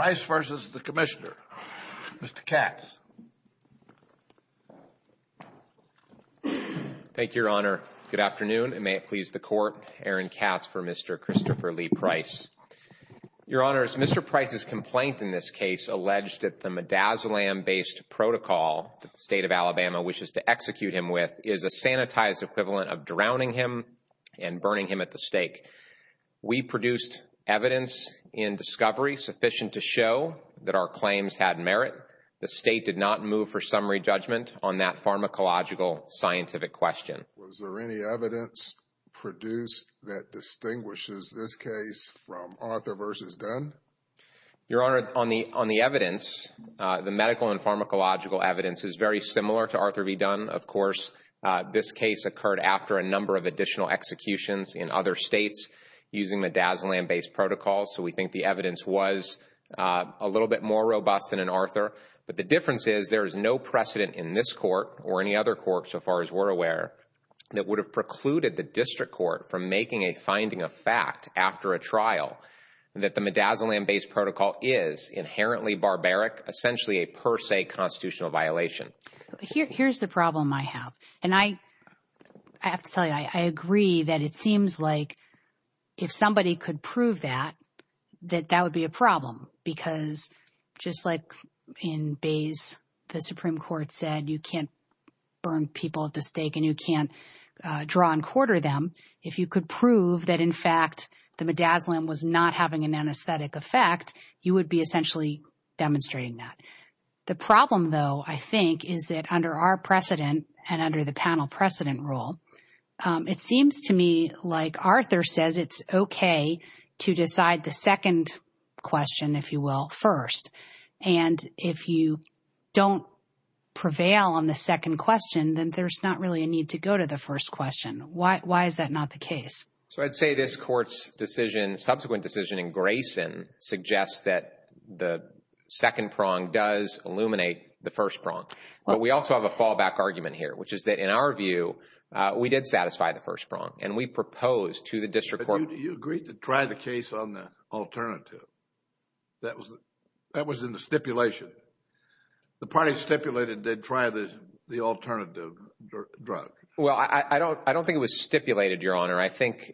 Mr. Price v. Commissioner, Mr. Katz. Thank you, Your Honor. Good afternoon, and may it please the Court, Aaron Katz for Mr. Christopher Lee Price. Your Honors, Mr. Price's complaint in this case alleged that the midazolam-based protocol that the State of Alabama wishes to execute him with is a sanitized equivalent of drowning him and burning him at the stake. We produced evidence in discovery sufficient to show that our claims had merit. The State did not move for summary judgment on that pharmacological scientific question. Was there any evidence produced that distinguishes this case from Arthur v. Dunn? Your Honor, on the evidence, the medical and pharmacological evidence is very similar to Arthur v. Dunn. Of course, this case occurred after a number of additional executions in other states using midazolam-based protocols, so we think the evidence was a little bit more robust than in Arthur. But the difference is there is no precedent in this court or any other court, so far as we're aware, that would have precluded the district court from making a finding of fact after a trial that the midazolam-based protocol is inherently barbaric, essentially a per se constitutional violation. Here's the problem I have, and I have to tell you, I agree that it seems like if somebody could prove that, that that would be a problem, because just like in Bays, the Supreme Court said you can't burn people at the stake and you can't draw and quarter them, if you could prove that, in fact, the midazolam was not having an anesthetic effect, you would be essentially demonstrating that. The problem, though, I think, is that under our precedent and under the panel precedent rule, it seems to me like Arthur says it's okay to decide the second question, if you will, first, and if you don't prevail on the second question, then there's not really a need to go to the first question. Why is that not the case? So I'd say this court's decision, subsequent decision in Grayson, suggests that the second prong does illuminate the first prong, but we also have a fallback argument here, which is that in our view, we did satisfy the first prong, and we proposed to the district court But you agreed to try the case on the alternative. That was in the stipulation. The party stipulated they'd try the alternative drug. Well, I don't think it was stipulated, Your Honor. I think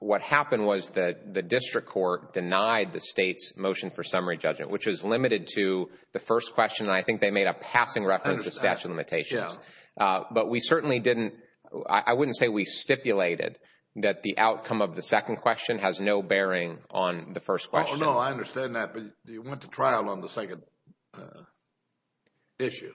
what happened was that the district court denied the state's motion for summary judgment, which was limited to the first question, and I think they made a passing reference to statute of limitations. But we certainly didn't, I wouldn't say we stipulated that the outcome of the second question has no bearing on the first question. Oh, no, I understand that, but you went to trial on the second issue.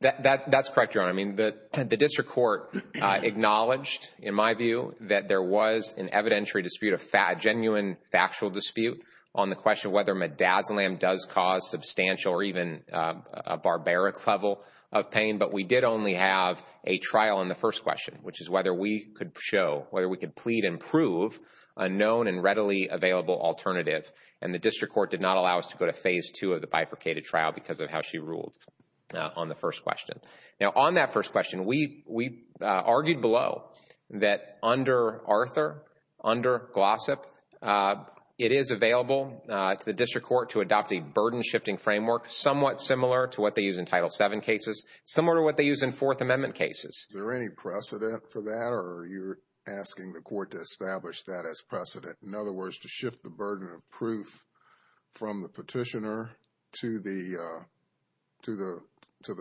That's correct, Your Honor. I mean, the district court acknowledged, in my view, that there was an evidentiary dispute, a genuine factual dispute on the question whether midazolam does cause substantial or even a barbaric level of pain, but we did only have a trial on the first question, which is whether we could show, whether we could plead and prove a known and readily available alternative, and the district court did not allow us to go to phase two of the bifurcated trial because of how she ruled on the first question. Now, on that first question, we argued below that under Arthur, under Glossop, it is available to the district court to adopt a burden-shifting framework somewhat similar to what they use in Title VII cases, similar to what they use in Fourth Amendment cases. Is there any precedent for that, or are you asking the court to establish that as precedent? In other words, to shift the burden of proof from the petitioner to the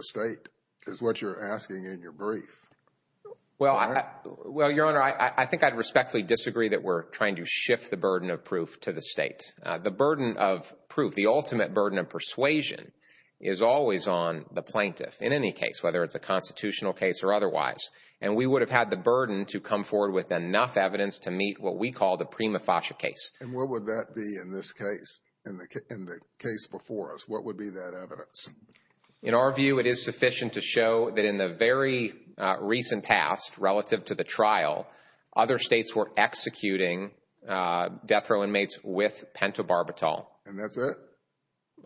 state is what you're asking in your brief. Well, Your Honor, I think I'd respectfully disagree that we're trying to shift the burden of proof to the state. The burden of proof, the ultimate burden of persuasion, is always on the plaintiff in any case, whether it's a constitutional case or otherwise, and we would have had the burden to come forward with enough evidence to meet what we call the prima facie case. And what would that be in this case, in the case before us? What would be that evidence? In our view, it is sufficient to show that in the very recent past, relative to the trial, other states were executing death row inmates with pentobarbital. And that's it?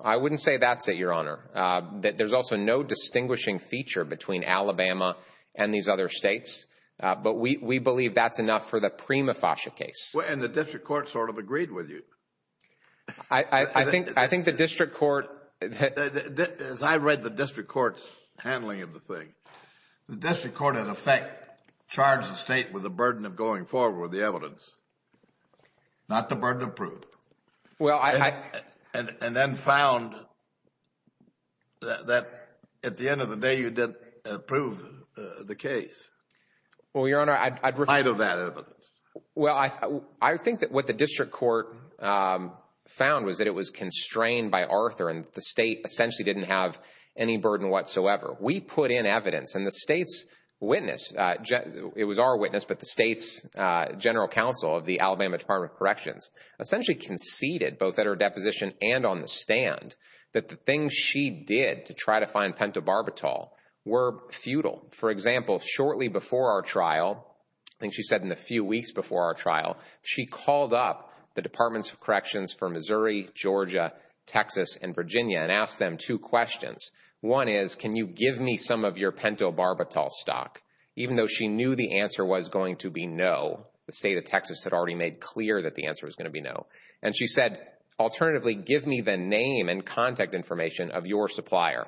I wouldn't say that's it, Your Honor. There's also no distinguishing feature between Alabama and these other states, but we believe that's enough for the prima facie case. And the district court sort of agreed with you? I think the district court... As I read the district court's handling of the thing, the district court in effect charged the state with the burden of going forward with the evidence, not the burden of proof, and then found that at the end of the day, you didn't prove the case. Well, Your Honor, I'd... In light of that evidence. Well, I think that what the district court found was that it was constrained by Arthur and the state essentially didn't have any burden whatsoever. We put in evidence, and the state's witness, it was our witness, but the state's general counsel of the Alabama Department of Corrections essentially conceded, both at her deposition and on the stand, that the things she did to try to find pentobarbital were futile. For example, shortly before our trial, and she said in the few weeks before our trial, she called up the Departments of Corrections for Missouri, Georgia, Texas, and Virginia and asked them two questions. One is, can you give me some of your pentobarbital stock? Even though she knew the answer was going to be no, the state of Texas had already made clear that the answer was going to be no. And she said, alternatively, give me the name and contact information of your supplier.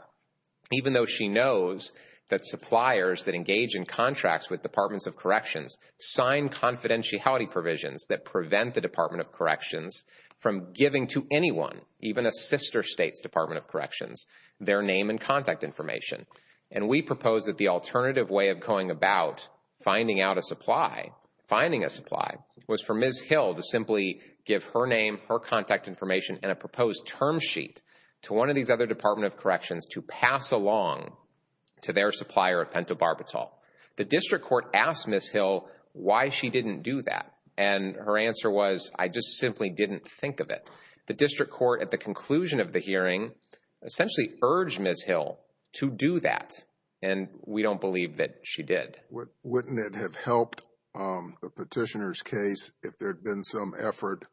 Even though she knows that suppliers that engage in contracts with Departments of Corrections sign confidentiality provisions that prevent the Department of Corrections from giving to anyone, even a sister state's Department of Corrections, their name and contact information. And we proposed that the alternative way of going about finding out a supply, finding a supply, was for Ms. Hill to simply give her name, her contact information, and a proposed term sheet to one of these other Department of Corrections to pass along to their supplier of pentobarbital. The district court asked Ms. Hill why she didn't do that. And her answer was, I just simply didn't think of it. The district court at the conclusion of the hearing essentially urged Ms. Hill to do that. And we don't believe that she did. Wouldn't it have helped the petitioner's case if there had been some effort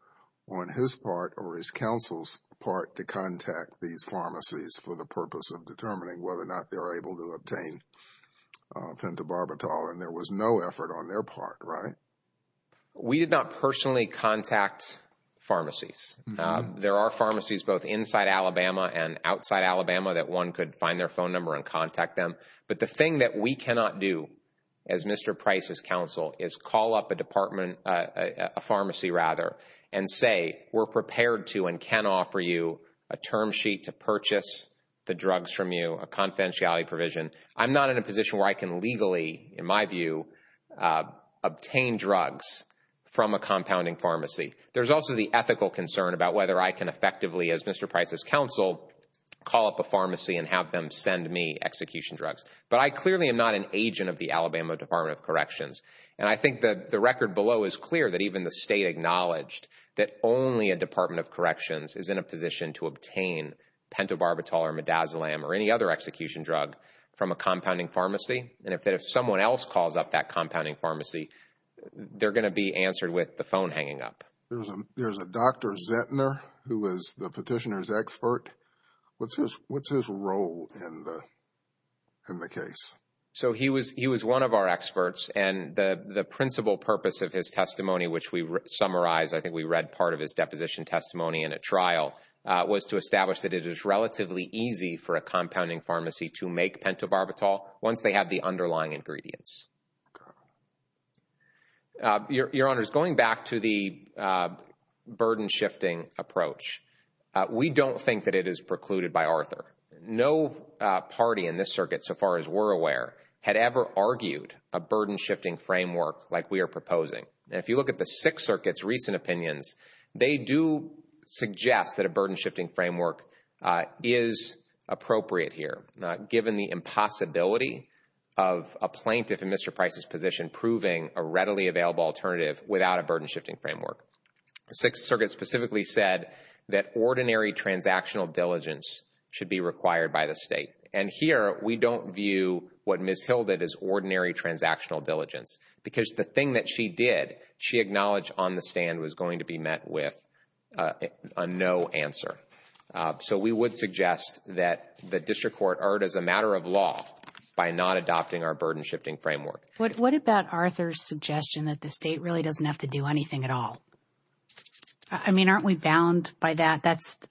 on his part or his counsel's part to contact these pharmacies for the purpose of determining whether or not they were able to obtain pentobarbital and there was no effort on their part, right? We did not personally contact pharmacies. There are pharmacies both inside Alabama and outside Alabama that one could find their phone number and contact them. But the thing that we cannot do as Mr. Price's counsel is call up a pharmacy and say, we're prepared to and can offer you a term sheet to purchase the drugs from you, a confidentiality provision. I'm not in a position where I can legally, in my view, obtain drugs from a compounding pharmacy. There's also the ethical concern about whether I can effectively, as Mr. Price's counsel, call up a pharmacy and have them send me execution drugs. But I clearly am not an agent of the Alabama Department of Corrections. And I think that the record below is clear that even the state acknowledged that only a Department of Corrections is in a position to obtain pentobarbital or midazolam or any other execution drug from a compounding pharmacy. And if someone else calls up that compounding pharmacy, they're going to be answered with the phone hanging up. There's a Dr. Zettner who was the petitioner's expert. What's his role in the case? So he was one of our experts and the principal purpose of his testimony, which we summarized, I think we read part of his deposition testimony in a trial, was to establish that it is relatively easy for a compounding pharmacy to make pentobarbital once they have the underlying ingredients. Your Honor, going back to the burden-shifting approach, we don't think that it is precluded by Arthur. No party in this circuit, so far as we're aware, had ever argued a burden-shifting framework like we are proposing. And if you look at the Sixth Circuit's recent opinions, they do suggest that a burden-shifting framework is appropriate here, given the impossibility of a plaintiff in Mr. Price's position proving a readily available alternative without a burden-shifting framework. The Sixth Circuit specifically said that ordinary transactional diligence should be required by the state. And here, we don't view what Ms. Hilditt is ordinary transactional diligence, because the thing that she did, she acknowledged on the stand, was going to be met with a no answer. So, we would suggest that the district court erred as a matter of law by not adopting our burden-shifting framework. What about Arthur's suggestion that the state really doesn't have to do anything at all? I mean, aren't we bound by that?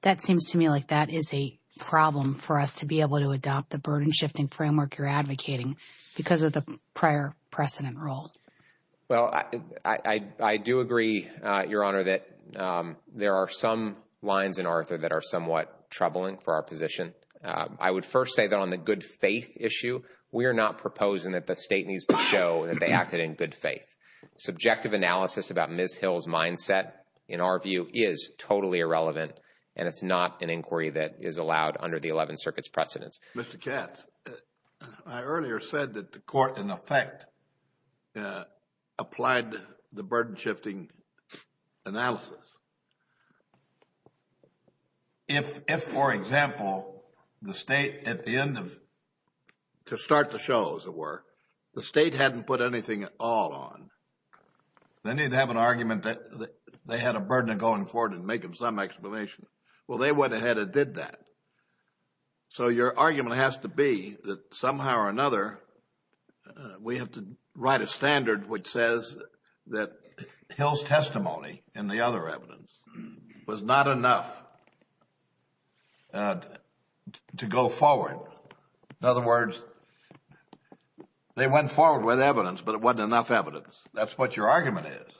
That seems to me like that is a problem for us to be able to adopt the burden-shifting framework you're advocating because of the prior precedent rule. Well, I do agree, Your Honor, that there are some lines in Arthur that are somewhat troubling for our position. I would first say that on the good faith issue, we are not proposing that the state needs to show that they acted in good faith. Subjective analysis about Ms. Hilditt's mindset, in our view, is totally irrelevant, and it's not an inquiry that is allowed under the Eleventh Circuit's precedence. Mr. Katz, I earlier said that the court, in effect, applied the burden-shifting analysis. If, for example, the state, at the end of, to start the show, as it were, the state hadn't put anything at all on, then you'd have an argument that they had a burden of going forward and making some explanation. Well, they went ahead and did that. So, your argument has to be that somehow or another, we have to write a standard which says that Hild's testimony in the other evidence was not enough to go forward. In other words, they went forward with evidence, but it wasn't enough evidence. That's what your argument is.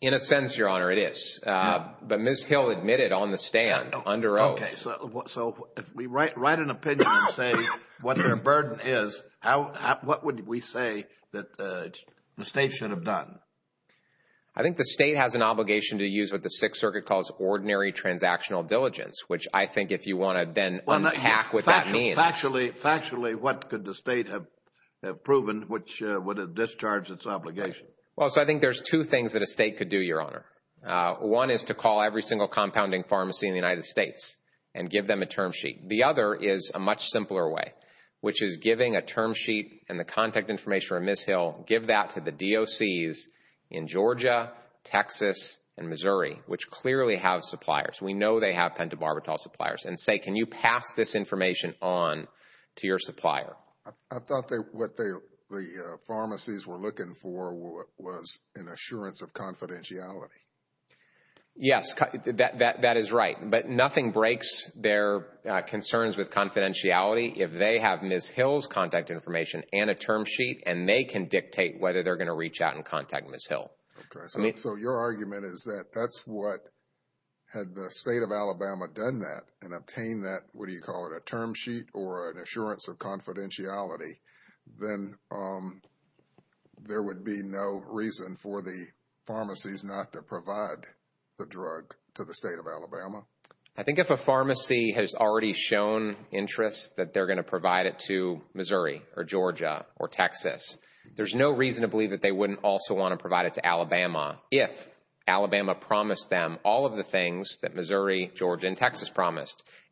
In a sense, Your Honor, it is. But Ms. Hild admitted on the stand, under oath. Okay. So, if we write an opinion and say what their burden is, what would we say that the state should have done? I think the state has an obligation to use what the Sixth Circuit calls ordinary transactional diligence, which I think if you want to then unpack what that means. Factually, what could the state have proven which would have discharged its obligation? Well, so I think there's two things that a state could do, Your Honor. One is to call every single compounding pharmacy in the United States and give them a term sheet. The other is a much simpler way, which is giving a term sheet and the contact information from Ms. Hild, give that to the DOCs in Georgia, Texas, and Missouri, which clearly have suppliers. We know they have pentobarbital suppliers, and say, can you pass this information on to your supplier? I thought what the pharmacies were looking for was an assurance of confidentiality. Yes, that is right. But nothing breaks their concerns with confidentiality if they have Ms. Hild's contact information and a term sheet, and they can dictate whether they're going to reach out and contact Ms. Hild. Okay. So, your argument is that that's what, had the state of Alabama done that and obtained that, what do you call it, a term sheet or an assurance of confidentiality, then there would be no reason for the pharmacies not to provide the drug to the state of Alabama? I think if a pharmacy has already shown interest that they're going to provide it to Missouri or Georgia or Texas, there's no reason to believe that they wouldn't also want to provide it to Alabama if Alabama promised them all of the things that Missouri, Georgia,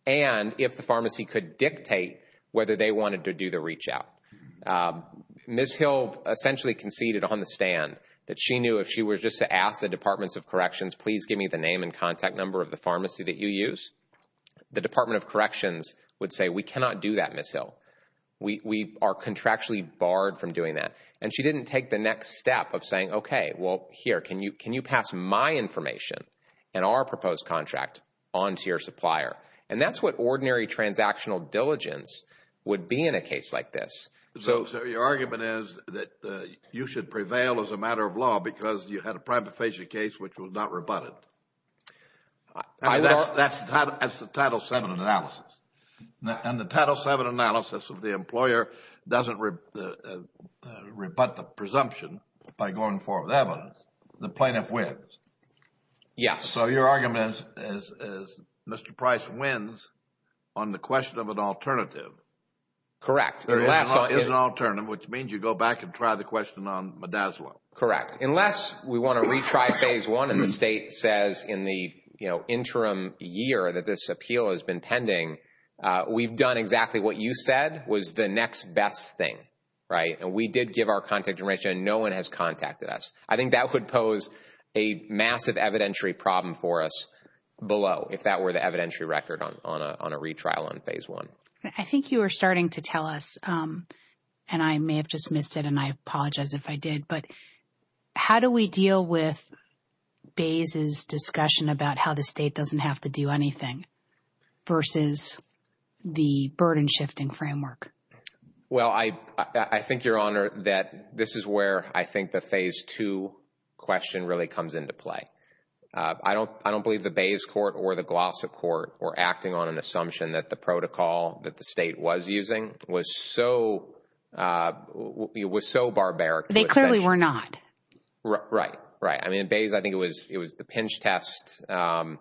and if the pharmacy could dictate whether they wanted to do the reach out. Ms. Hild essentially conceded on the stand that she knew if she was just to ask the Departments of Corrections, please give me the name and contact number of the pharmacy that you use, the Department of Corrections would say, we cannot do that, Ms. Hild. We are contractually barred from doing that. And she didn't take the next step of saying, okay, well, here, can you pass my information and our proposed contract on to your supplier? And that's what ordinary transactional diligence would be in a case like this. So your argument is that you should prevail as a matter of law because you had a primed to face your case, which was not rebutted. That's the Title VII analysis. And the Title VII analysis of the employer doesn't rebut the presumption by going forward. That one, the plaintiff wins. Yes. So your argument is Mr. Price wins on the question of an alternative. Correct. There is an alternative, which means you go back and try the question on Modaslo. Correct. Unless we want to retry Phase I and the state says in the, you know, interim year that this appeal has been pending, we've done exactly what you said was the next best thing, right? And we did give our contact information and no one has contacted us. I think that would pose a massive evidentiary problem for us below if that were the evidentiary record on a retrial on Phase I. I think you were starting to tell us, and I may have just missed it and I apologize if I did, but how do we deal with Bayes' discussion about how the state doesn't have to do anything versus the burden shifting framework? Well, I think, Your Honor, that this is where I think the Phase II question really comes into play. I don't believe the Bayes court or the Glossip court were acting on an assumption that the protocol that the state was using was so barbaric. They clearly were not. Right. Right. I mean, in Bayes, I think it was the pinch test. And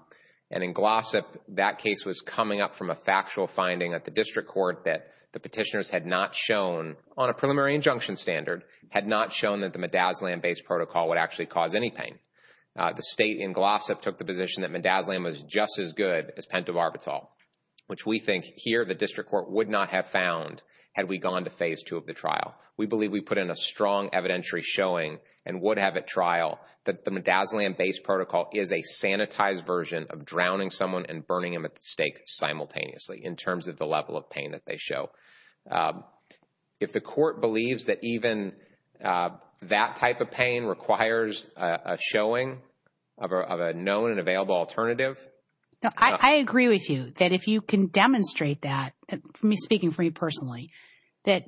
in Glossip, that case was coming up from a factual finding at the district court that the petitioners had not shown, on a preliminary injunction standard, had not shown that the Midazolam-based protocol would actually cause any pain. The state in Glossip took the position that Midazolam was just as good as pentobarbital, which we think here the district court would not have found had we gone to Phase II of the trial. We believe we put in a strong evidentiary showing and would have at trial that the Midazolam-based protocol is a sanitized version of drowning someone and burning him at the stake simultaneously in terms of the level of pain that they show. If the court believes that even that type of pain requires a showing of a known and available alternative. I agree with you that if you can demonstrate that, me speaking for you personally, that,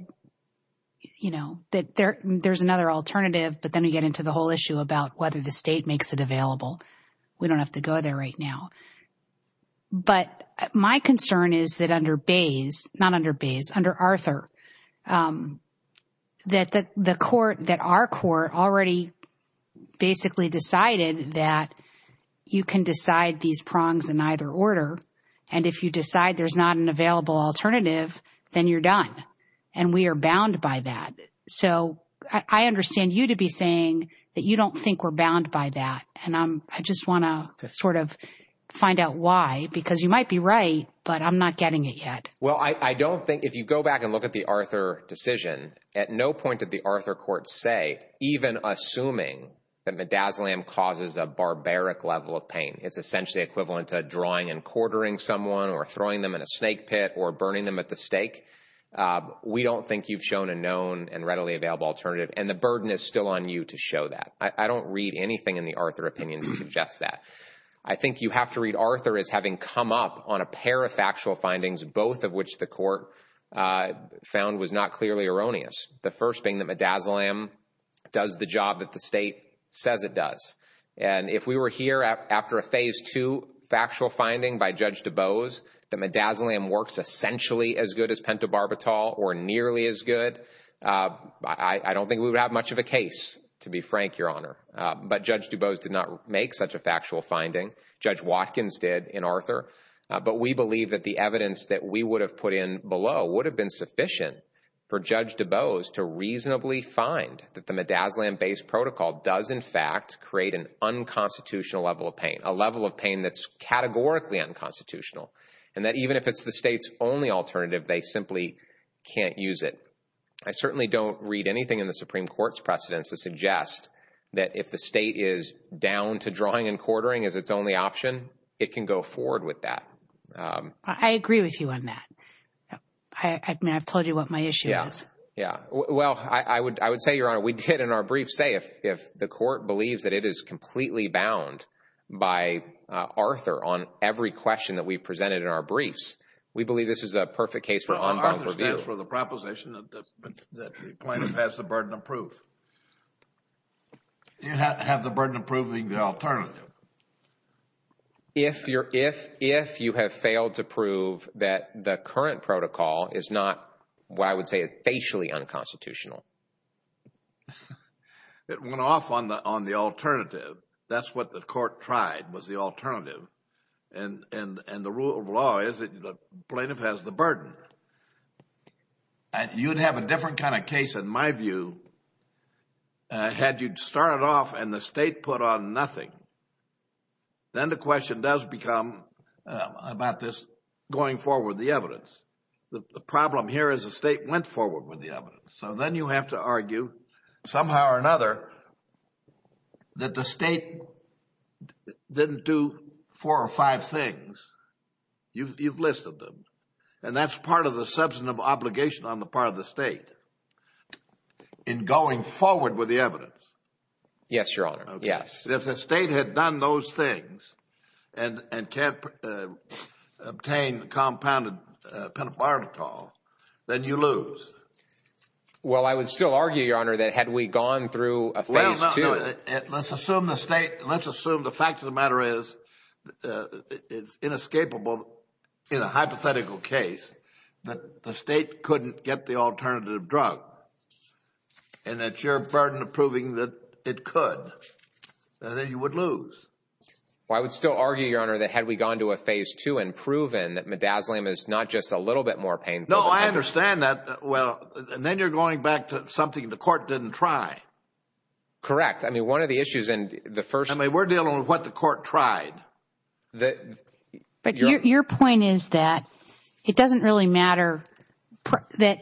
you know, that there's another alternative, but then we get into the whole issue about whether the state makes it available, we don't have to go there right now. But my concern is that under Bays, not under Bays, under Arthur, that the court, that our court already basically decided that you can decide these prongs in either order. And if you decide there's not an available alternative, then you're done. And we are bound by that. So I understand you to be saying that you don't think we're bound by that. And I just want to sort of find out why, because you might be right, but I'm not getting it yet. Well, I don't think if you go back and look at the Arthur decision, at no point did the Arthur court say, even assuming that Midazolam causes a barbaric level of pain, it's essentially equivalent to drawing and quartering someone or throwing them in a snake pit or burning them at the stake. We don't think you've shown a known and readily available alternative. And the burden is still on you to show that. I don't read anything in the Arthur opinion to suggest that. I think you have to read Arthur as having come up on a pair of factual findings, both of which the court found was not clearly erroneous. The first being that Midazolam does the job that the state says it does. And if we were here after a phase two factual finding by Judge DuBose, that Midazolam works essentially as good as pentobarbital or nearly as good, I don't think we would have much of a case, to be frank, Your Honor. But Judge DuBose did not make such a factual finding. Judge Watkins did in Arthur. But we believe that the evidence that we would have put in below would have been sufficient for Judge DuBose to reasonably find that the Midazolam-based protocol does, in fact, create an unconstitutional level of pain, a level of pain that's categorically unconstitutional. And that even if it's the state's only alternative, they simply can't use it. I certainly don't read anything in the Supreme Court's precedents to suggest that if the state is down to drawing and quartering as its only option, it can go forward with that. I agree with you on that. I mean, I've told you what my issue is. Yeah. Well, I would say, Your Honor, we did in our briefs say if the court believes that it is completely bound by Arthur on every question that we've presented in our briefs, we believe this is a perfect case for unbound review. And that's for the proposition that the plaintiff has the burden of proof. You have the burden of proving the alternative. If you have failed to prove that the current protocol is not, what I would say, facially unconstitutional. It went off on the alternative. That's what the court tried, was the alternative. And the rule of law is that the plaintiff has the burden. You'd have a different kind of case, in my view, had you started off and the state put on nothing. Then the question does become about this going forward with the evidence. The problem here is the state went forward with the evidence. So then you have to argue somehow or another that the state didn't do four or five things. You've listed them. And that's part of the substantive obligation on the part of the state in going forward with the evidence. Yes, Your Honor. Yes. If the state had done those things and can't obtain compounded pentobarbital, then you lose. Well, I would still argue, Your Honor, that had we gone through a phase two. Let's assume the state, let's assume the fact of the matter is it's inescapable in a hypothetical case that the state couldn't get the alternative drug. And it's your burden of proving that it could. Then you would lose. Well, I would still argue, Your Honor, that had we gone to a phase two and proven that midazolam is not just a little bit more painful. No, I understand that. Well, and then you're going back to something the court didn't try. Correct. I mean, one of the issues in the first. I mean, we're dealing with what the court tried. But your point is that it doesn't really matter that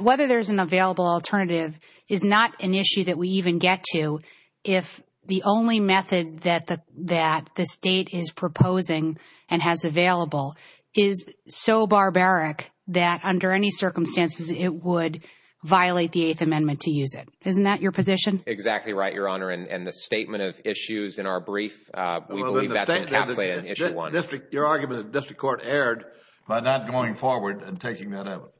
whether there's an available alternative is not an issue that we even get to if the only method that the state is proposing and has available is so barbaric that under any circumstances it would violate the Eighth Amendment to use it. Isn't that your position? Exactly right, Your Honor. And the statement of issues in our brief, we believe that's encapsulated in issue one. Your argument is the district court erred by not going forward and taking that evidence.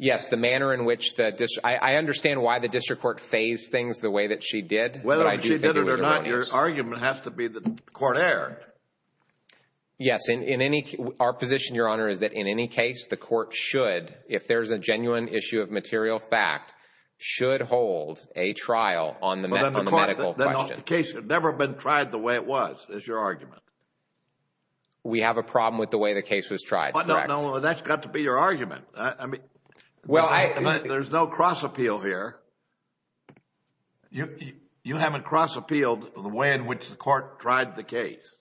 Yes, the manner in which the district. I understand why the district court phased things the way that she did. Whether she did it or not, your argument has to be that the court erred. Yes, in any our position, Your Honor, is that in any case, the court should, if there's a genuine issue of material fact, should hold a trial on the medical question. But then the case had never been tried the way it was, is your argument. We have a problem with the way the case was tried, correct? No, no, that's got to be your argument. I mean, there's no cross appeal here. You haven't cross appealed the way in which the court tried the case.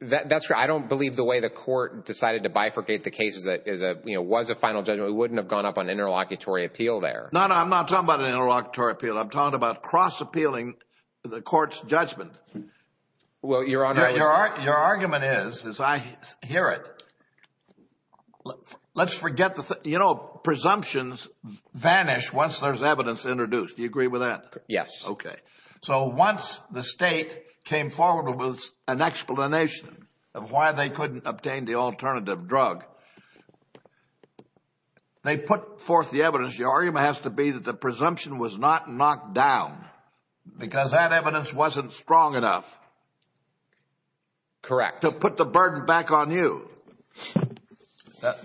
That's right. I don't believe the way the court decided to bifurcate the case is a, you know, was a final judgment. We wouldn't have gone up on interlocutory appeal there. No, no, I'm not talking about an interlocutory appeal. I'm talking about cross appealing the court's judgment. Well, Your Honor, your argument is, as I hear it, let's forget the, you know, presumptions vanish once there's evidence introduced. Do you agree with that? Yes. Okay. So once the state came forward with an explanation of why they couldn't obtain the alternative drug, they put forth the evidence. Your argument has to be that the presumption was not knocked down because that evidence wasn't strong enough to put the burden back on you.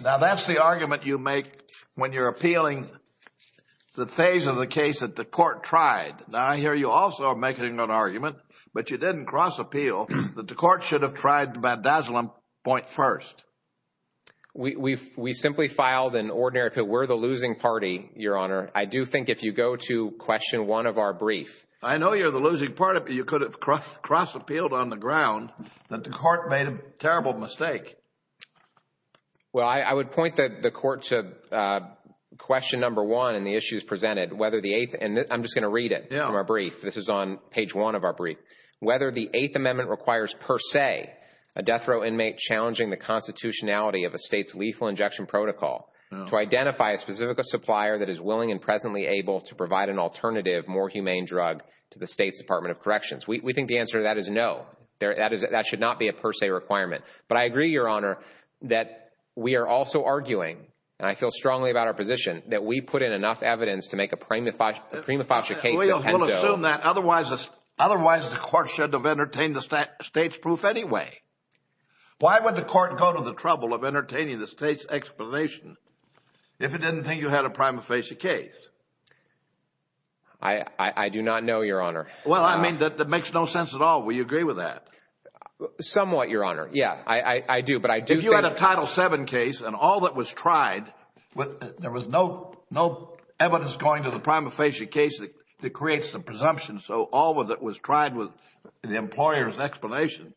Now, that's the argument you make when you're appealing the phase of the case that the court tried. Now, I hear you also making an argument, but you didn't cross appeal that the court should have tried the vandazzling point first. We simply filed an ordinary appeal. We're the losing party, Your Honor. I do think if you go to question one of our brief. I know you're the losing party, but you could have crossed appealed on the ground that the court made a terrible mistake. Well, I would point the court to question number one in the issues presented, whether the eighth, and I'm just going to read it from our brief. This is on page one of our brief. Whether the eighth amendment requires per se, a death row inmate challenging the constitutionality of a state's lethal injection protocol to identify a specific supplier that is willing and presently able to provide an alternative, more humane drug to the state's Department of Corrections. We think the answer to that is no. That should not be a per se requirement. But I agree, Your Honor, that we are also arguing, and I feel strongly about our position, that we put in enough evidence to make a prima facie case that had no— I would assume that otherwise the court should have entertained the state's proof anyway. Why would the court go to the trouble of entertaining the state's explanation if it didn't think you had a prima facie case? I do not know, Your Honor. Well, I mean, that makes no sense at all. Will you agree with that? Somewhat, Your Honor. Yeah, I do. But I do think— If you had a Title VII case and all that was tried, there was no evidence going to the presumption, so all that was tried was the employer's explanation,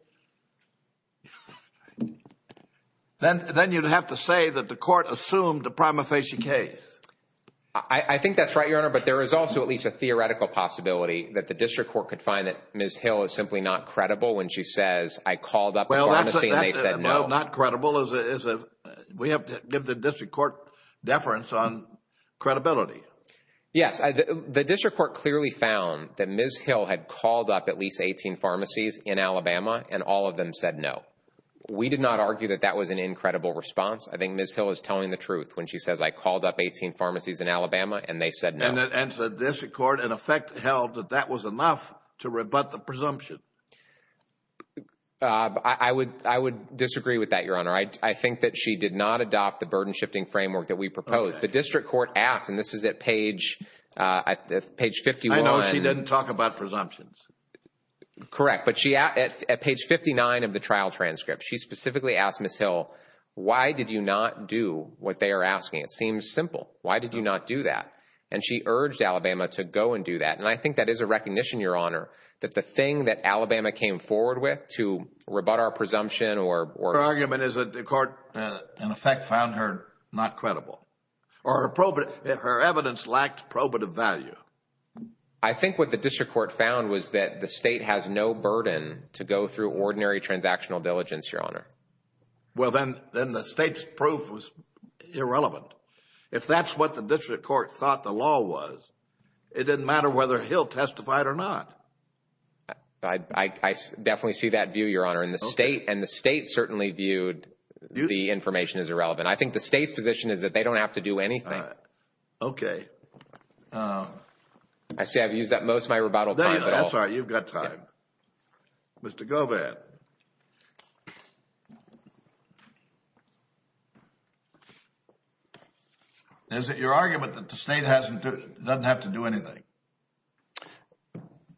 then you'd have to say that the court assumed a prima facie case. I think that's right, Your Honor, but there is also at least a theoretical possibility that the district court could find that Ms. Hill is simply not credible when she says I called up the pharmacy and they said no. Well, not credible is a— we have to give the district court deference on credibility. Yes. The district court clearly found that Ms. Hill had called up at least 18 pharmacies in Alabama and all of them said no. We did not argue that that was an incredible response. I think Ms. Hill is telling the truth when she says I called up 18 pharmacies in Alabama and they said no. And the district court, in effect, held that that was enough to rebut the presumption. I would disagree with that, Your Honor. I think that she did not adopt the burden-shifting framework that we proposed. The district court asked, and this is at page 51— I know she didn't talk about presumptions. Correct. But at page 59 of the trial transcript, she specifically asked Ms. Hill, why did you not do what they are asking? It seems simple. Why did you not do that? And she urged Alabama to go and do that. And I think that is a recognition, Your Honor, that the thing that Alabama came forward with to rebut our presumption or— Your argument is that the court, in effect, found her not credible or her evidence lacked probative value. I think what the district court found was that the state has no burden to go through ordinary transactional diligence, Your Honor. Well, then the state's proof was irrelevant. If that's what the district court thought the law was, it didn't matter whether Hill testified or not. I definitely see that view, Your Honor. And the state certainly viewed the information as irrelevant. I think the state's position is that they don't have to do anything. Okay. I see I've used up most of my rebuttal time. That's all right. You've got time. Mr. Govatt. Is it your argument that the state doesn't have to do anything?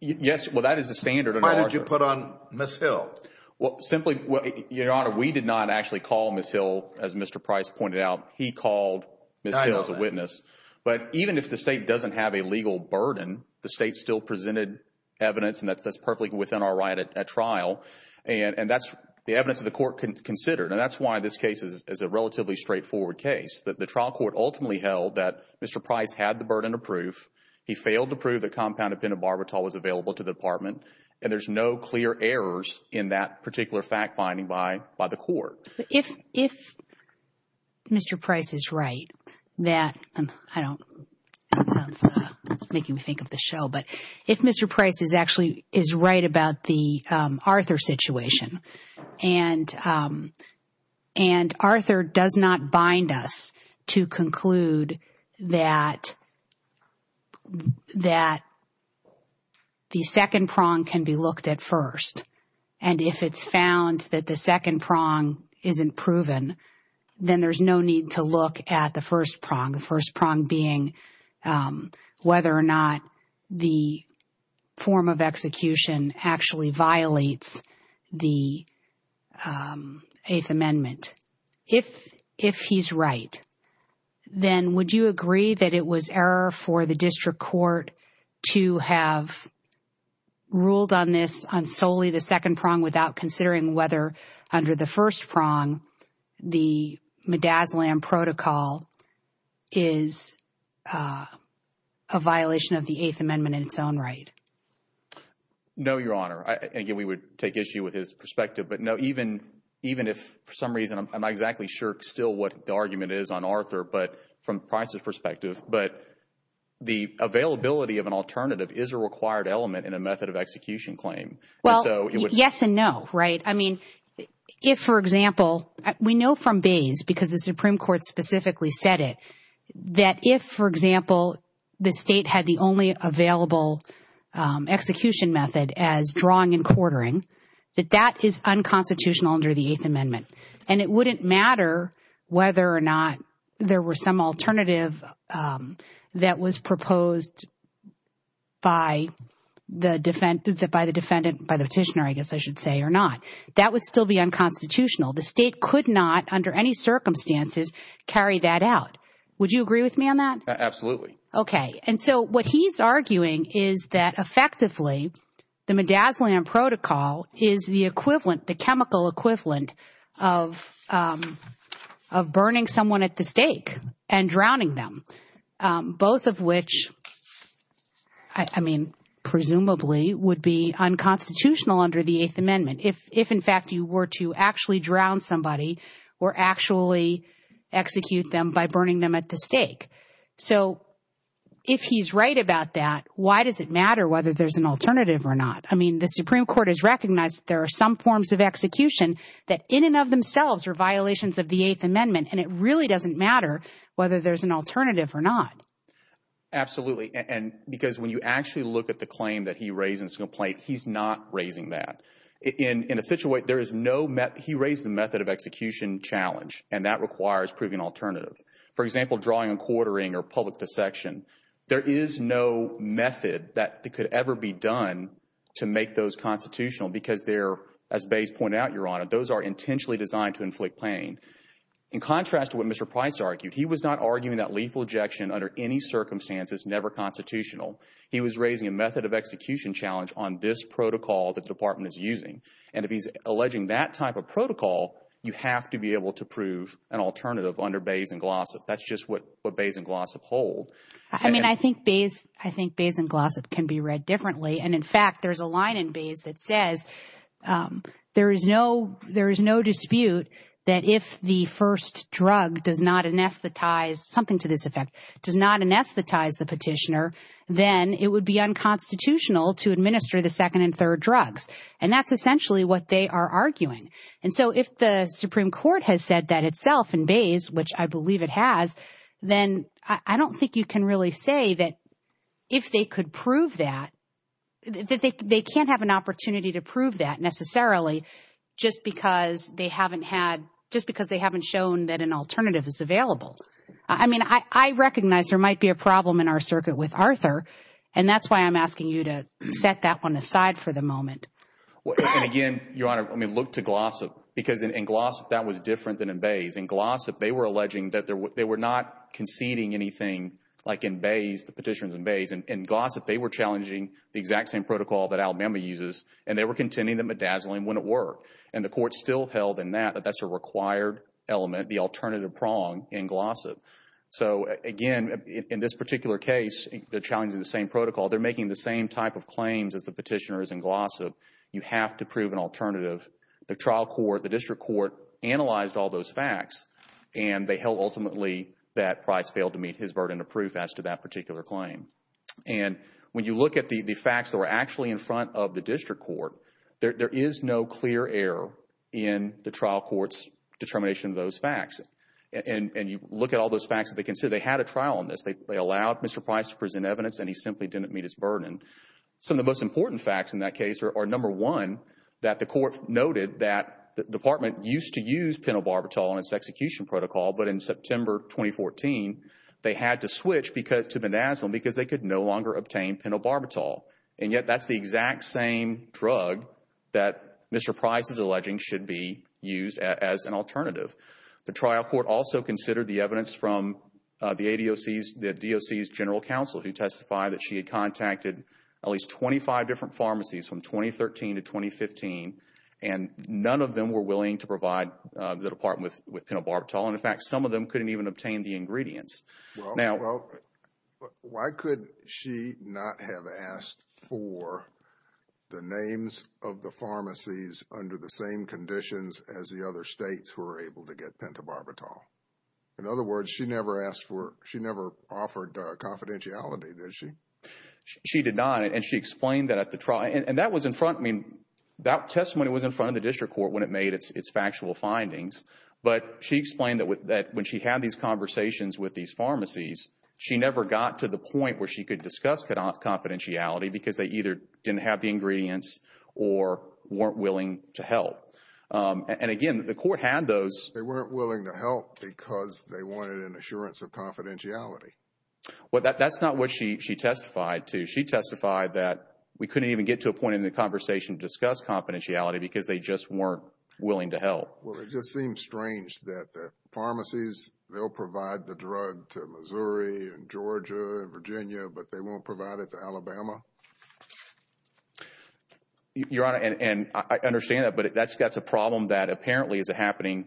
Yes. Well, that is the standard. Why did you put on Ms. Hill? Well, simply, Your Honor, we did not actually call Ms. Hill, as Mr. Price pointed out. He called Ms. Hill as a witness. I know that. But even if the state doesn't have a legal burden, the state still presented evidence and that's perfectly within our right at trial. And that's the evidence that the court considered. And that's why this case is a relatively straightforward case, that the trial court ultimately held that Mr. Price had the burden of proof. He failed to prove the compound of pentobarbital was available to the department. And there's no clear errors in that particular fact-finding by the court. If Mr. Price is right, that I don't make you think of the show. But if Mr. Price is actually is right about the Arthur situation, and Arthur does not bind us to conclude that the second prong can be looked at first, and if it's found that the second prong isn't proven, then there's no need to look at the first prong, the first prong being whether or not the form of execution actually violates the Eighth Amendment. If he's right, then would you agree that it was error for the district court to have ruled on this on solely the second prong without considering whether under the first prong the MDASLAM protocol is a violation of the Eighth Amendment in its own right? No, Your Honor. Again, we would take issue with his perspective. But no, even if for some reason I'm not exactly sure still what the argument is on Arthur, but from Price's perspective, but the availability of an alternative is a required element in a method of execution claim. Well, yes and no, right? I mean, if, for example, we know from Bayes, because the Supreme Court specifically said it, that if, for example, the state had the only available execution method as drawing and quartering, that that is unconstitutional under the Eighth Amendment. And it wouldn't matter whether or not there were some alternative that was proposed by the defendant, by the petitioner, I guess I should say, or not. That would still be unconstitutional. The state could not, under any circumstances, carry that out. Would you agree with me on that? Absolutely. Okay. And so what he's arguing is that effectively the MDASLAM protocol is the equivalent, the chemical equivalent of burning someone at the stake and drowning them, both of which, I mean, presumably would be unconstitutional under the Eighth Amendment. If, in fact, you were to actually drown somebody or actually execute them by burning them at the stake. So if he's right about that, why does it matter whether there's an alternative or not? I mean, the Supreme Court has recognized that there are some forms of execution that in and of themselves are violations of the Eighth Amendment, and it really doesn't matter whether there's an alternative or not. Absolutely. And because when you actually look at the claim that he raised in his complaint, he's not raising that. In a situation where there is no method, he raised the method of execution challenge, and that requires proving an alternative. For example, drawing and quartering or public dissection. There is no method that could ever be done to make those constitutional because they're, as Bayes pointed out, Your Honor, those are intentionally designed to inflict pain. In contrast to what Mr. Price argued, he was not arguing that lethal ejection under any circumstance is never constitutional. He was raising a method of execution challenge on this protocol that the Department is using. And if he's alleging that type of protocol, you have to be able to prove an alternative under Bayes and Glossop. That's just what Bayes and Glossop hold. I mean, I think Bayes and Glossop can be read differently. And, in fact, there's a line in Bayes that says there is no dispute that if the first drug does not anesthetize, something to this effect, does not anesthetize the petitioner, then it would be unconstitutional to administer the second and third drugs. And that's essentially what they are arguing. And so if the Supreme Court has said that itself in Bayes, which I believe it has, then I don't think you can really say that if they could prove that, that they can't have an opportunity to prove that necessarily just because they haven't had, just because they haven't shown that an alternative is available. I mean, I recognize there might be a problem in our circuit with Arthur, and that's why I'm asking you to set that one aside for the moment. And, again, Your Honor, I mean, look to Glossop. Because in Glossop, that was different than in Bayes. In Glossop, they were alleging that they were not conceding anything, like in Bayes, the petitions in Bayes. In Glossop, they were challenging the exact same protocol that Alabama uses, and they were contending that medazzling wouldn't work. And the Court still held in that that that's a required element, the alternative prong in Glossop. So, again, in this particular case, they're challenging the same protocol. They're making the same type of claims as the petitioners in Glossop. You have to prove an alternative. The trial court, the district court, analyzed all those facts, and they held ultimately that Price failed to meet his burden of proof as to that particular claim. And when you look at the facts that were actually in front of the district court, there is no clear error in the trial court's determination of those facts. And you look at all those facts that they considered. They had a trial on this. They allowed Mr. Price to present evidence, and he simply didn't meet his burden. Some of the most important facts in that case are, number one, that the Court noted that the Department used to use penobarbital in its execution protocol, but in September 2014, they had to switch to medazzling because they could no longer obtain penobarbital. And yet that's the exact same drug that Mr. Price is alleging should be used as an alternative. The trial court also considered the evidence from the ADOC's general counsel, who testified that she had contacted at least 25 different pharmacies from 2013 to 2015, and none of them were willing to provide the Department with penobarbital. And, in fact, some of them couldn't even obtain the ingredients. Well, why could she not have asked for the names of the pharmacies under the same conditions as the other states who were able to get penobarbital? In other words, she never offered confidentiality, did she? She did not, and she explained that at the trial. And that testimony was in front of the district court when it made its factual findings, but she explained that when she had these conversations with these pharmacies, she never got to the point where she could discuss confidentiality because they either didn't have the ingredients or weren't willing to help. And, again, the court had those. They weren't willing to help because they wanted an assurance of confidentiality. Well, that's not what she testified to. She testified that we couldn't even get to a point in the conversation to discuss confidentiality because they just weren't willing to help. Well, it just seems strange that the pharmacies, they'll provide the drug to Missouri and Georgia and Virginia, but they won't provide it to Alabama. Your Honor, and I understand that, but that's a problem that apparently is happening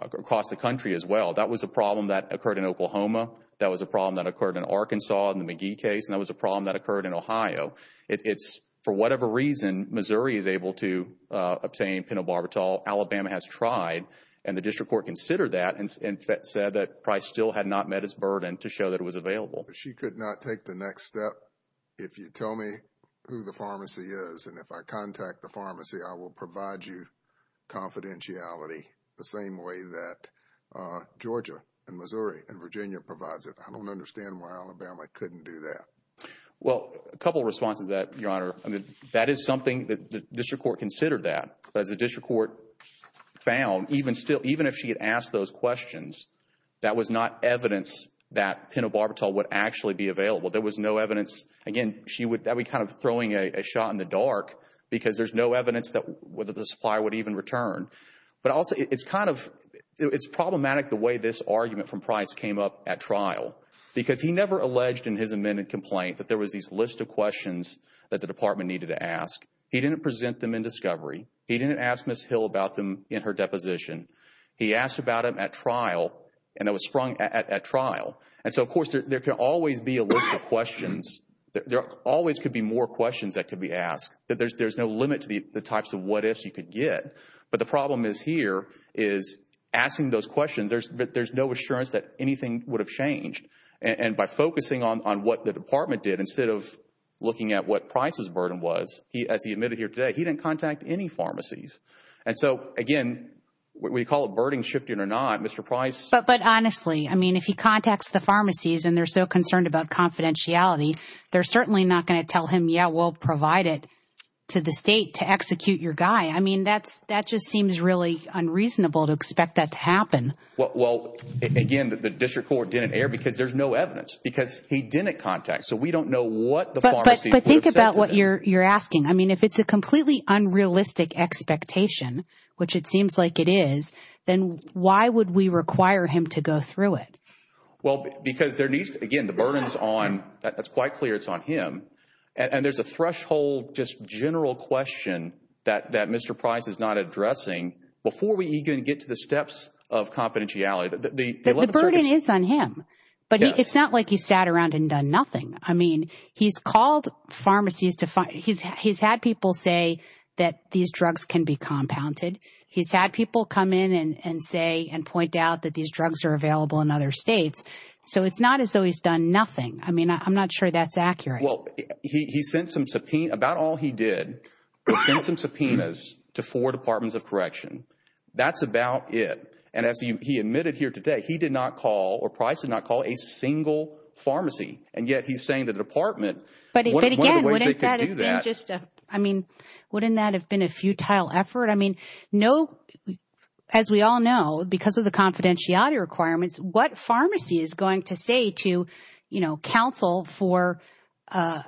across the country as well. That was a problem that occurred in Oklahoma. That was a problem that occurred in Arkansas in the McGee case, and that was a problem that occurred in Ohio. For whatever reason, Missouri is able to obtain penobarbital. Alabama has tried, and the district court considered that and said that Price still had not met its burden to show that it was available. She could not take the next step. If you tell me who the pharmacy is and if I contact the pharmacy, I will provide you confidentiality the same way that Georgia and Missouri and Virginia provides it. I don't understand why Alabama couldn't do that. Well, a couple of responses to that, Your Honor. That is something that the district court considered that. But as the district court found, even if she had asked those questions, that was not evidence that penobarbital would actually be available. There was no evidence. Again, that would be kind of throwing a shot in the dark because there's no evidence that the supplier would even return. But also, it's problematic the way this argument from Price came up at trial because he never alleged in his amended complaint that there was this list of questions that the department needed to ask. He didn't present them in discovery. He didn't ask Ms. Hill about them in her deposition. He asked about them at trial, and it was sprung at trial. And so, of course, there can always be a list of questions. There always could be more questions that could be asked. There's no limit to the types of what-ifs you could get. But the problem is here is asking those questions, but there's no assurance that anything would have changed. And by focusing on what the department did instead of looking at what Price's burden was, as he admitted here today, he didn't contact any pharmacies. And so, again, we call it burden shifting or not. Mr. Price. But honestly, I mean, if he contacts the pharmacies and they're so concerned about confidentiality, they're certainly not going to tell him, yeah, we'll provide it to the state to execute your guy. I mean, that just seems really unreasonable to expect that to happen. Well, again, the district court didn't err because there's no evidence. Because he didn't contact. So we don't know what the pharmacies would have said to him. But think about what you're asking. I mean, if it's a completely unrealistic expectation, which it seems like it is, then why would we require him to go through it? Well, because there needs to be, again, the burden is on, that's quite clear, it's on him. And there's a threshold, just general question that Mr. Price is not addressing before we even get to the steps of confidentiality. The burden is on him. But it's not like he sat around and done nothing. I mean, he's called pharmacies to find – he's had people say that these drugs can be compounded. He's had people come in and say and point out that these drugs are available in other states. So it's not as though he's done nothing. I mean, I'm not sure that's accurate. Well, he sent some – about all he did was send some subpoenas to four departments of correction. That's about it. And as he admitted here today, he did not call or Price did not call a single pharmacy. And yet he's saying the department, one of the ways they could do that. But again, wouldn't that have been just a – I mean, wouldn't that have been a futile effort? I mean, no – as we all know, because of the confidentiality requirements, what pharmacy is going to say to counsel for a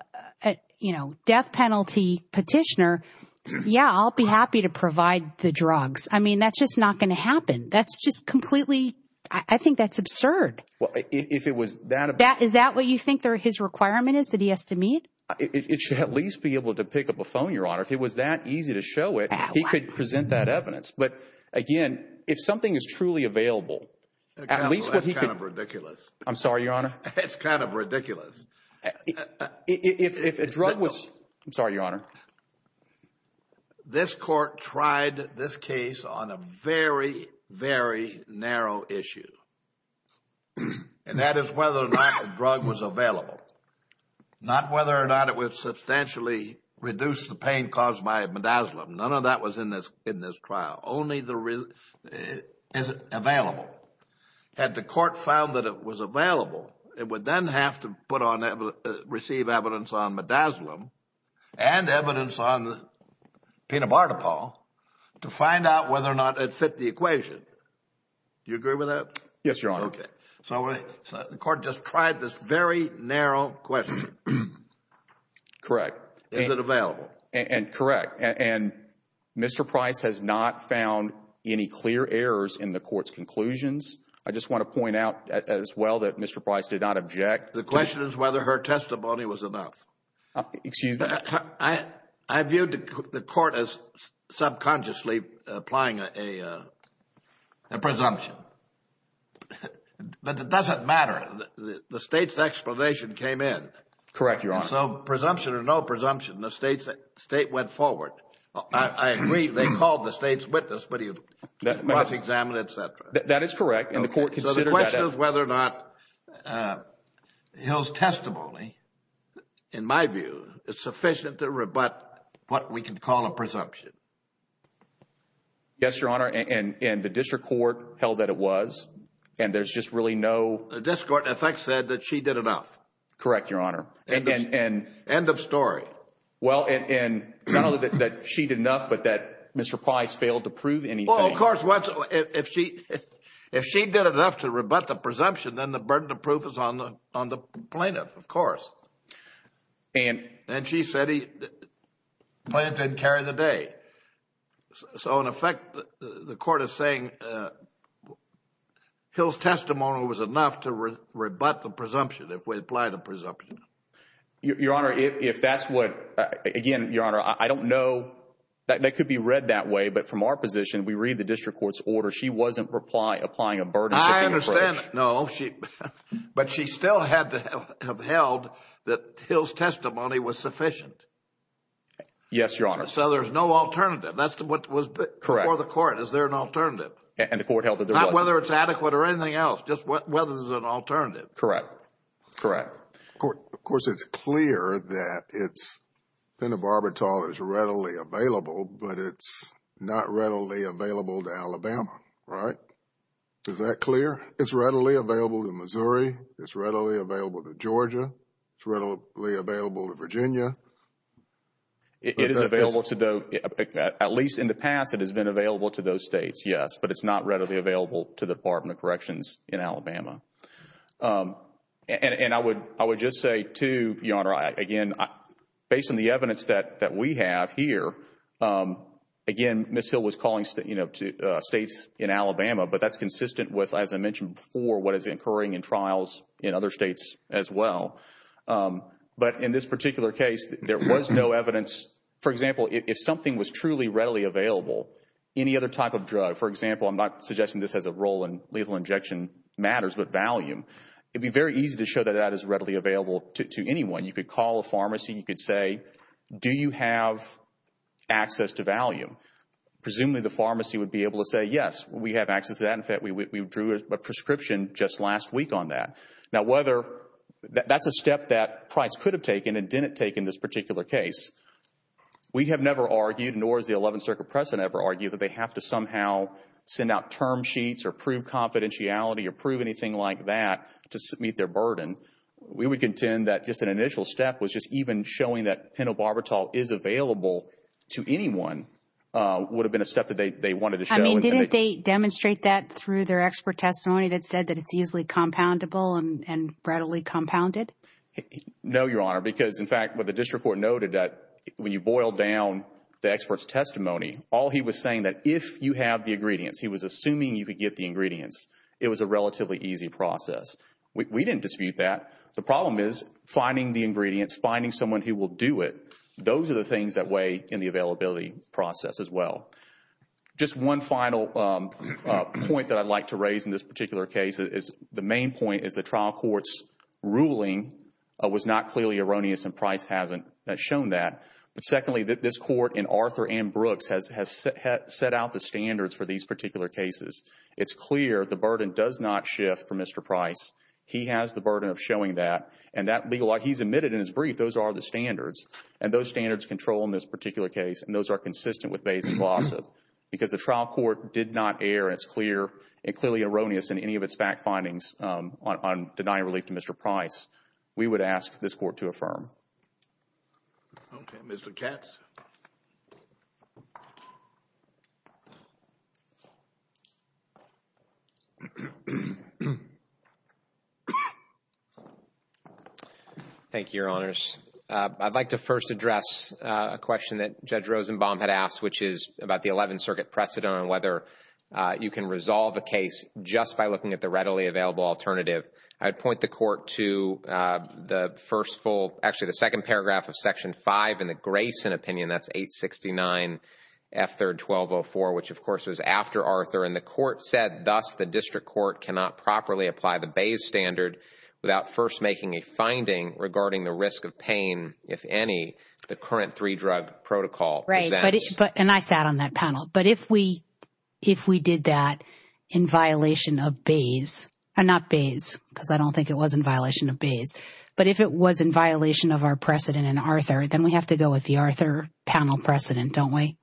death penalty petitioner, yeah, I'll be happy to provide the drugs. I mean, that's just not going to happen. That's just completely – I think that's absurd. Well, if it was that – Is that what you think his requirement is that he has to meet? It should at least be able to pick up a phone, Your Honor. If it was that easy to show it, he could present that evidence. But, again, if something is truly available, at least what he could – Counsel, that's kind of ridiculous. I'm sorry, Your Honor. It's kind of ridiculous. If a drug was – I'm sorry, Your Honor. This court tried this case on a very, very narrow issue, and that is whether or not the drug was available, not whether or not it would substantially reduce the pain caused by midazolam. None of that was in this trial. Only the – is it available? Had the court found that it was available, it would then have to put on – receive evidence on midazolam and evidence on penobartopol to find out whether or not it fit the equation. Do you agree with that? Yes, Your Honor. Okay. So the court just tried this very narrow question. Correct. Is it available? Correct. And Mr. Price has not found any clear errors in the court's conclusions. I just want to point out as well that Mr. Price did not object. The question is whether her testimony was enough. Excuse me. I viewed the court as subconsciously applying a presumption. But it doesn't matter. The State's explanation came in. Correct, Your Honor. So presumption or no presumption, the State went forward. I agree they called the State's witness, but he was examined, et cetera. That is correct. And the court considered that as – So the question is whether or not Hill's testimony, in my view, is sufficient to rebut what we can call a presumption. Yes, Your Honor. And the district court held that it was. And there's just really no – The district court in effect said that she did enough. Correct, Your Honor. End of story. Well, and not only that she did enough, but that Mr. Price failed to prove anything. Well, of course, if she did enough to rebut the presumption, then the burden of proof is on the plaintiff, of course. And she said the plaintiff didn't carry the day. So, in effect, the court is saying Hill's testimony was enough to rebut the presumption. Your Honor, if that's what – again, Your Honor, I don't know. That could be read that way. But from our position, we read the district court's order. She wasn't applying a burdenshipping approach. I understand. No. But she still had to have held that Hill's testimony was sufficient. Yes, Your Honor. So there's no alternative. That's what was before the court. Is there an alternative? And the court held that there was. Not whether it's adequate or anything else, just whether there's an alternative. Correct. Correct. Of course, it's clear that it's – penitentiary is readily available, but it's not readily available to Alabama, right? Is that clear? It's readily available to Missouri. It's readily available to Georgia. It's readily available to Virginia. It is available to – at least in the past, it has been available to those states, yes. But it's not readily available to the Department of Corrections in Alabama. And I would just say, too, Your Honor, again, based on the evidence that we have here, again, Ms. Hill was calling states in Alabama, but that's consistent with, as I mentioned before, what is occurring in trials in other states as well. But in this particular case, there was no evidence. For example, if something was truly readily available, any other type of drug, for example, I'm not suggesting this has a role in lethal injection matters, but value, it would be very easy to show that that is readily available to anyone. You could call a pharmacy. You could say, do you have access to Valium? Presumably, the pharmacy would be able to say, yes, we have access to that. In fact, we drew a prescription just last week on that. Now, whether – that's a step that Price could have taken and didn't take in this particular case. We have never argued, nor has the 11th Circuit precedent ever argued, that they have to somehow send out term sheets or prove confidentiality or prove anything like that to meet their burden. We would contend that just an initial step was just even showing that pentobarbital is available to anyone would have been a step that they wanted to show. Didn't they demonstrate that through their expert testimony that said that it's easily compoundable and readily compounded? No, Your Honor, because, in fact, what the district court noted, that when you boil down the expert's testimony, all he was saying that if you have the ingredients, he was assuming you could get the ingredients. It was a relatively easy process. We didn't dispute that. The problem is finding the ingredients, finding someone who will do it, those are the things that weigh in the availability process as well. Just one final point that I'd like to raise in this particular case is the main point is the trial court's ruling was not clearly erroneous and Price hasn't shown that. But secondly, this court and Arthur M. Brooks has set out the standards for these particular cases. It's clear the burden does not shift for Mr. Price. He has the burden of showing that. And he's admitted in his brief those are the standards, and those standards control in this particular case, and those are consistent with Bayes and Blossom. Because the trial court did not err, it's clear, and clearly erroneous in any of its fact findings on denying relief to Mr. Price. We would ask this court to affirm. Okay. Mr. Katz. Thank you, Your Honors. I'd like to first address a question that Judge Rosenbaum had asked, which is about the Eleventh Circuit precedent on whether you can resolve a case just by looking at the readily available alternative. I'd point the court to the first full, actually the second paragraph of Section 5 in the Grayson opinion, that's 869F3-1204, which, of course, was after Arthur. And the court said, thus the district court cannot properly apply the Bayes standard without first making a finding regarding the risk of pain, if any, the current three-drug protocol presents. Right. And I sat on that panel. But if we did that in violation of Bayes, not Bayes, because I don't think it was in violation of Bayes, but if it was in violation of our precedent in Arthur, then we have to go with the Arthur panel precedent, don't we?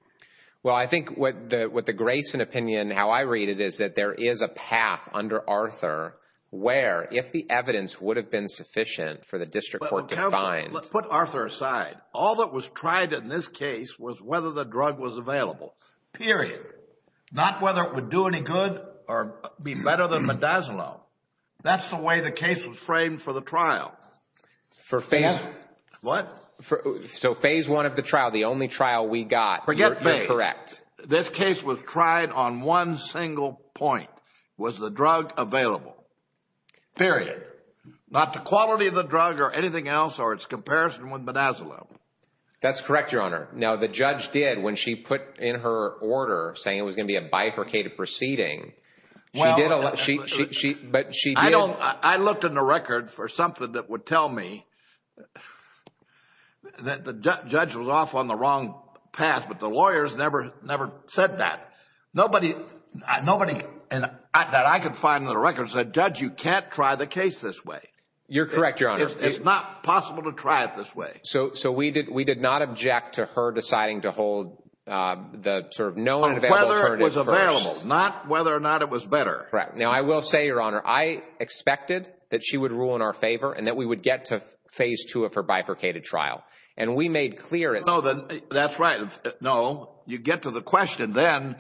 Well, I think what the Grayson opinion, how I read it, is that there is a path under Arthur where, if the evidence would have been sufficient for the district court to find. Put Arthur aside. All that was tried in this case was whether the drug was available, period. Not whether it would do any good or be better than midazolam. That's the way the case was framed for the trial. What? So phase one of the trial, the only trial we got. Forget Bayes. You're correct. This case was tried on one single point. Was the drug available? Period. Not the quality of the drug or anything else or its comparison with midazolam. That's correct, Your Honor. Now, the judge did, when she put in her order, saying it was going to be a bifurcated proceeding, she did. I looked in the record for something that would tell me that the judge was off on the wrong path, but the lawyers never said that. Nobody that I could find in the record said, Judge, you can't try the case this way. You're correct, Your Honor. It's not possible to try it this way. So we did not object to her deciding to hold the sort of known available alternative first. On whether it was available, not whether or not it was better. Correct. Now, I will say, Your Honor, I expected that she would rule in our favor and that we would get to phase two of her bifurcated trial. And we made clear it's. That's right. No, you get to the question then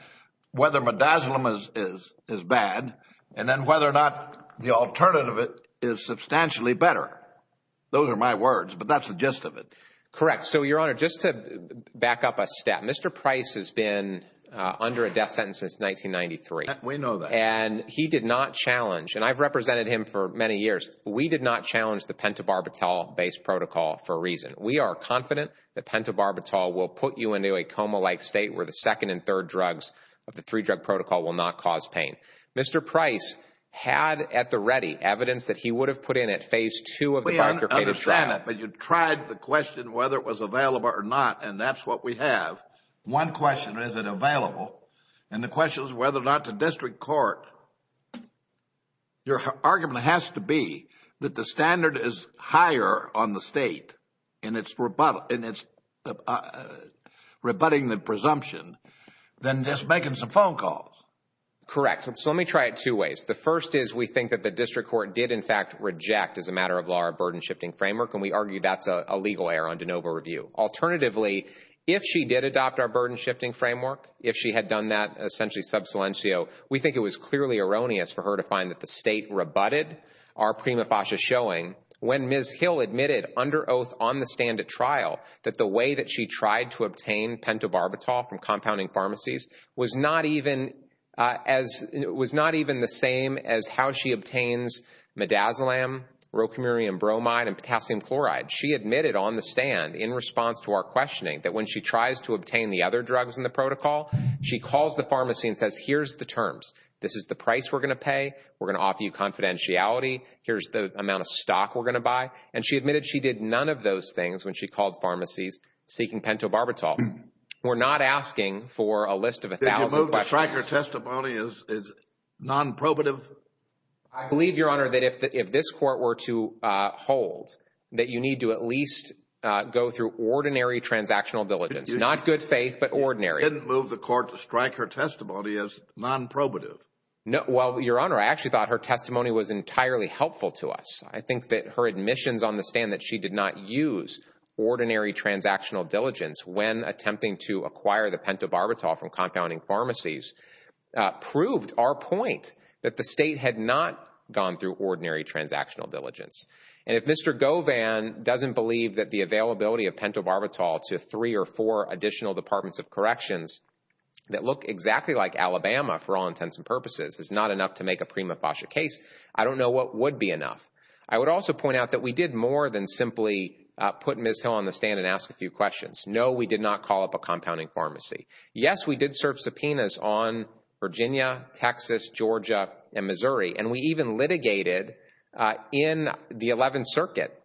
whether midazolam is bad and then whether or not the alternative is substantially better. Those are my words, but that's the gist of it. Correct. So, Your Honor, just to back up a step, Mr. Price has been under a death sentence since 1993. We know that. And he did not challenge, and I've represented him for many years, we did not challenge the penta-barbital based protocol for a reason. We are confident that penta-barbital will put you into a coma-like state where the second and third drugs of the three-drug protocol will not cause pain. Mr. Price had at the ready evidence that he would have put in at phase two of the bifurcated trial. We understand it, but you tried the question whether it was available or not, and that's what we have. One question, is it available? And the question is whether or not the district court. Your argument has to be that the standard is higher on the state and it's rebutting the presumption than just making some phone calls. Correct. So let me try it two ways. The first is we think that the district court did, in fact, reject as a matter of law our burden-shifting framework, and we argue that's a legal error on de novo review. Alternatively, if she did adopt our burden-shifting framework, if she had done that essentially sub silencio, we think it was clearly erroneous for her to find that the state rebutted our prima facie showing when Ms. Hill admitted under oath on the stand at trial that the way that she tried to obtain penta-barbital from compounding pharmacies was not even the same as how she obtains midazolam, rocumirium bromide, and potassium chloride. She admitted on the stand in response to our questioning that when she tries to obtain the other drugs in the protocol, she calls the pharmacy and says, here's the terms. This is the price we're going to pay. We're going to offer you confidentiality. Here's the amount of stock we're going to buy. And she admitted she did none of those things when she called pharmacies seeking penta-barbital. We're not asking for a list of a thousand questions. Did your vote to strike your testimony as non-probative? I believe, Your Honor, that if this court were to hold that you need to at least go through ordinary transactional diligence. Not good faith, but ordinary. You didn't move the court to strike her testimony as non-probative. Well, Your Honor, I actually thought her testimony was entirely helpful to us. I think that her admissions on the stand that she did not use ordinary transactional diligence when attempting to acquire the penta-barbital from compounding pharmacies proved our point that the state had not gone through ordinary transactional diligence. And if Mr. Govan doesn't believe that the availability of penta-barbital to three or four additional Departments of Corrections that look exactly like Alabama for all intents and purposes is not enough to make a prima facie case, I don't know what would be enough. I would also point out that we did more than simply put Ms. Hill on the stand and ask a few questions. No, we did not call up a compounding pharmacy. Yes, we did serve subpoenas on Virginia, Texas, Georgia, and Missouri. And we even litigated in the 11th Circuit,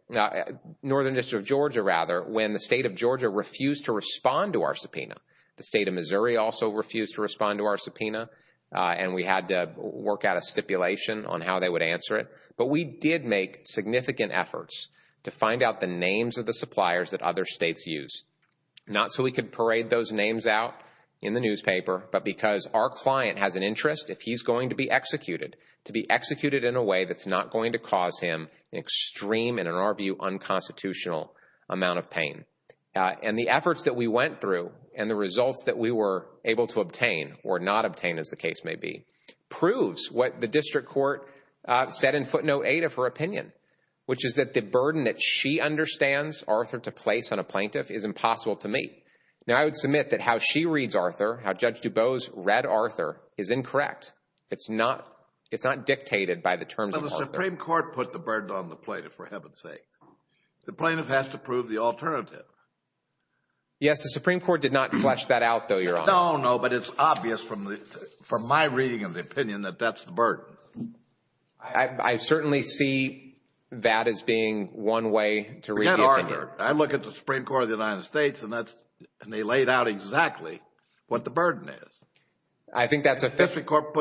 Northern District of Georgia rather, when the state of Georgia refused to respond to our subpoena. The state of Missouri also refused to respond to our subpoena. And we had to work out a stipulation on how they would answer it. But we did make significant efforts to find out the names of the suppliers that other states use. Not so we could parade those names out in the newspaper, but because our client has an interest, if he's going to be executed, to be executed in a way that's not going to cause him an extreme, and in our view, unconstitutional amount of pain. And the efforts that we went through and the results that we were able to obtain, or not obtain as the case may be, proves what the District Court said in footnote 8 of her opinion, which is that the burden that she understands Arthur to place on a plaintiff is impossible to me. Now, I would submit that how she reads Arthur, how Judge DuBose read Arthur, is incorrect. It's not dictated by the terms of Arthur. But the Supreme Court put the burden on the plaintiff, for heaven's sake. The plaintiff has to prove the alternative. Yes, the Supreme Court did not flesh that out, though, Your Honor. No, no, but it's obvious from my reading of the opinion that that's the burden. I certainly see that as being one way to read the opinion. I look at the Supreme Court of the United States, and they laid out exactly what the burden is. The District Court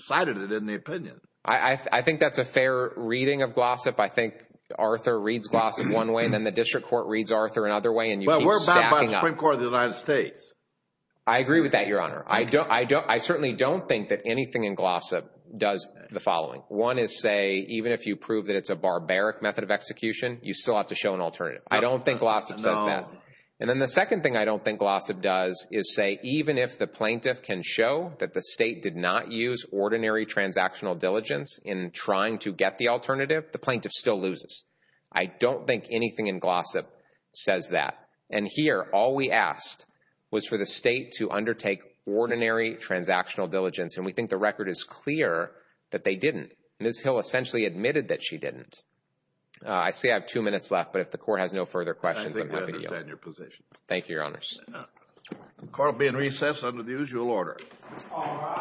cited it in the opinion. I think that's a fair reading of Glossop. I think Arthur reads Glossop one way, and then the District Court reads Arthur another way, and you keep stacking up. Well, we're not by the Supreme Court of the United States. I agree with that, Your Honor. I certainly don't think that anything in Glossop does the following. One is, say, even if you prove that it's a barbaric method of execution, you still have to show an alternative. I don't think Glossop says that. And then the second thing I don't think Glossop does is say, even if the plaintiff can show that the state did not use ordinary transactional diligence in trying to get the alternative, the plaintiff still loses. I don't think anything in Glossop says that. And here, all we asked was for the state to undertake ordinary transactional diligence, and we think the record is clear that they didn't. Ms. Hill essentially admitted that she didn't. I see I have two minutes left, but if the Court has no further questions, I'm happy to yield. I think I understand your position. Thank you, Your Honors. The Court will be in recess under the usual order. All rise.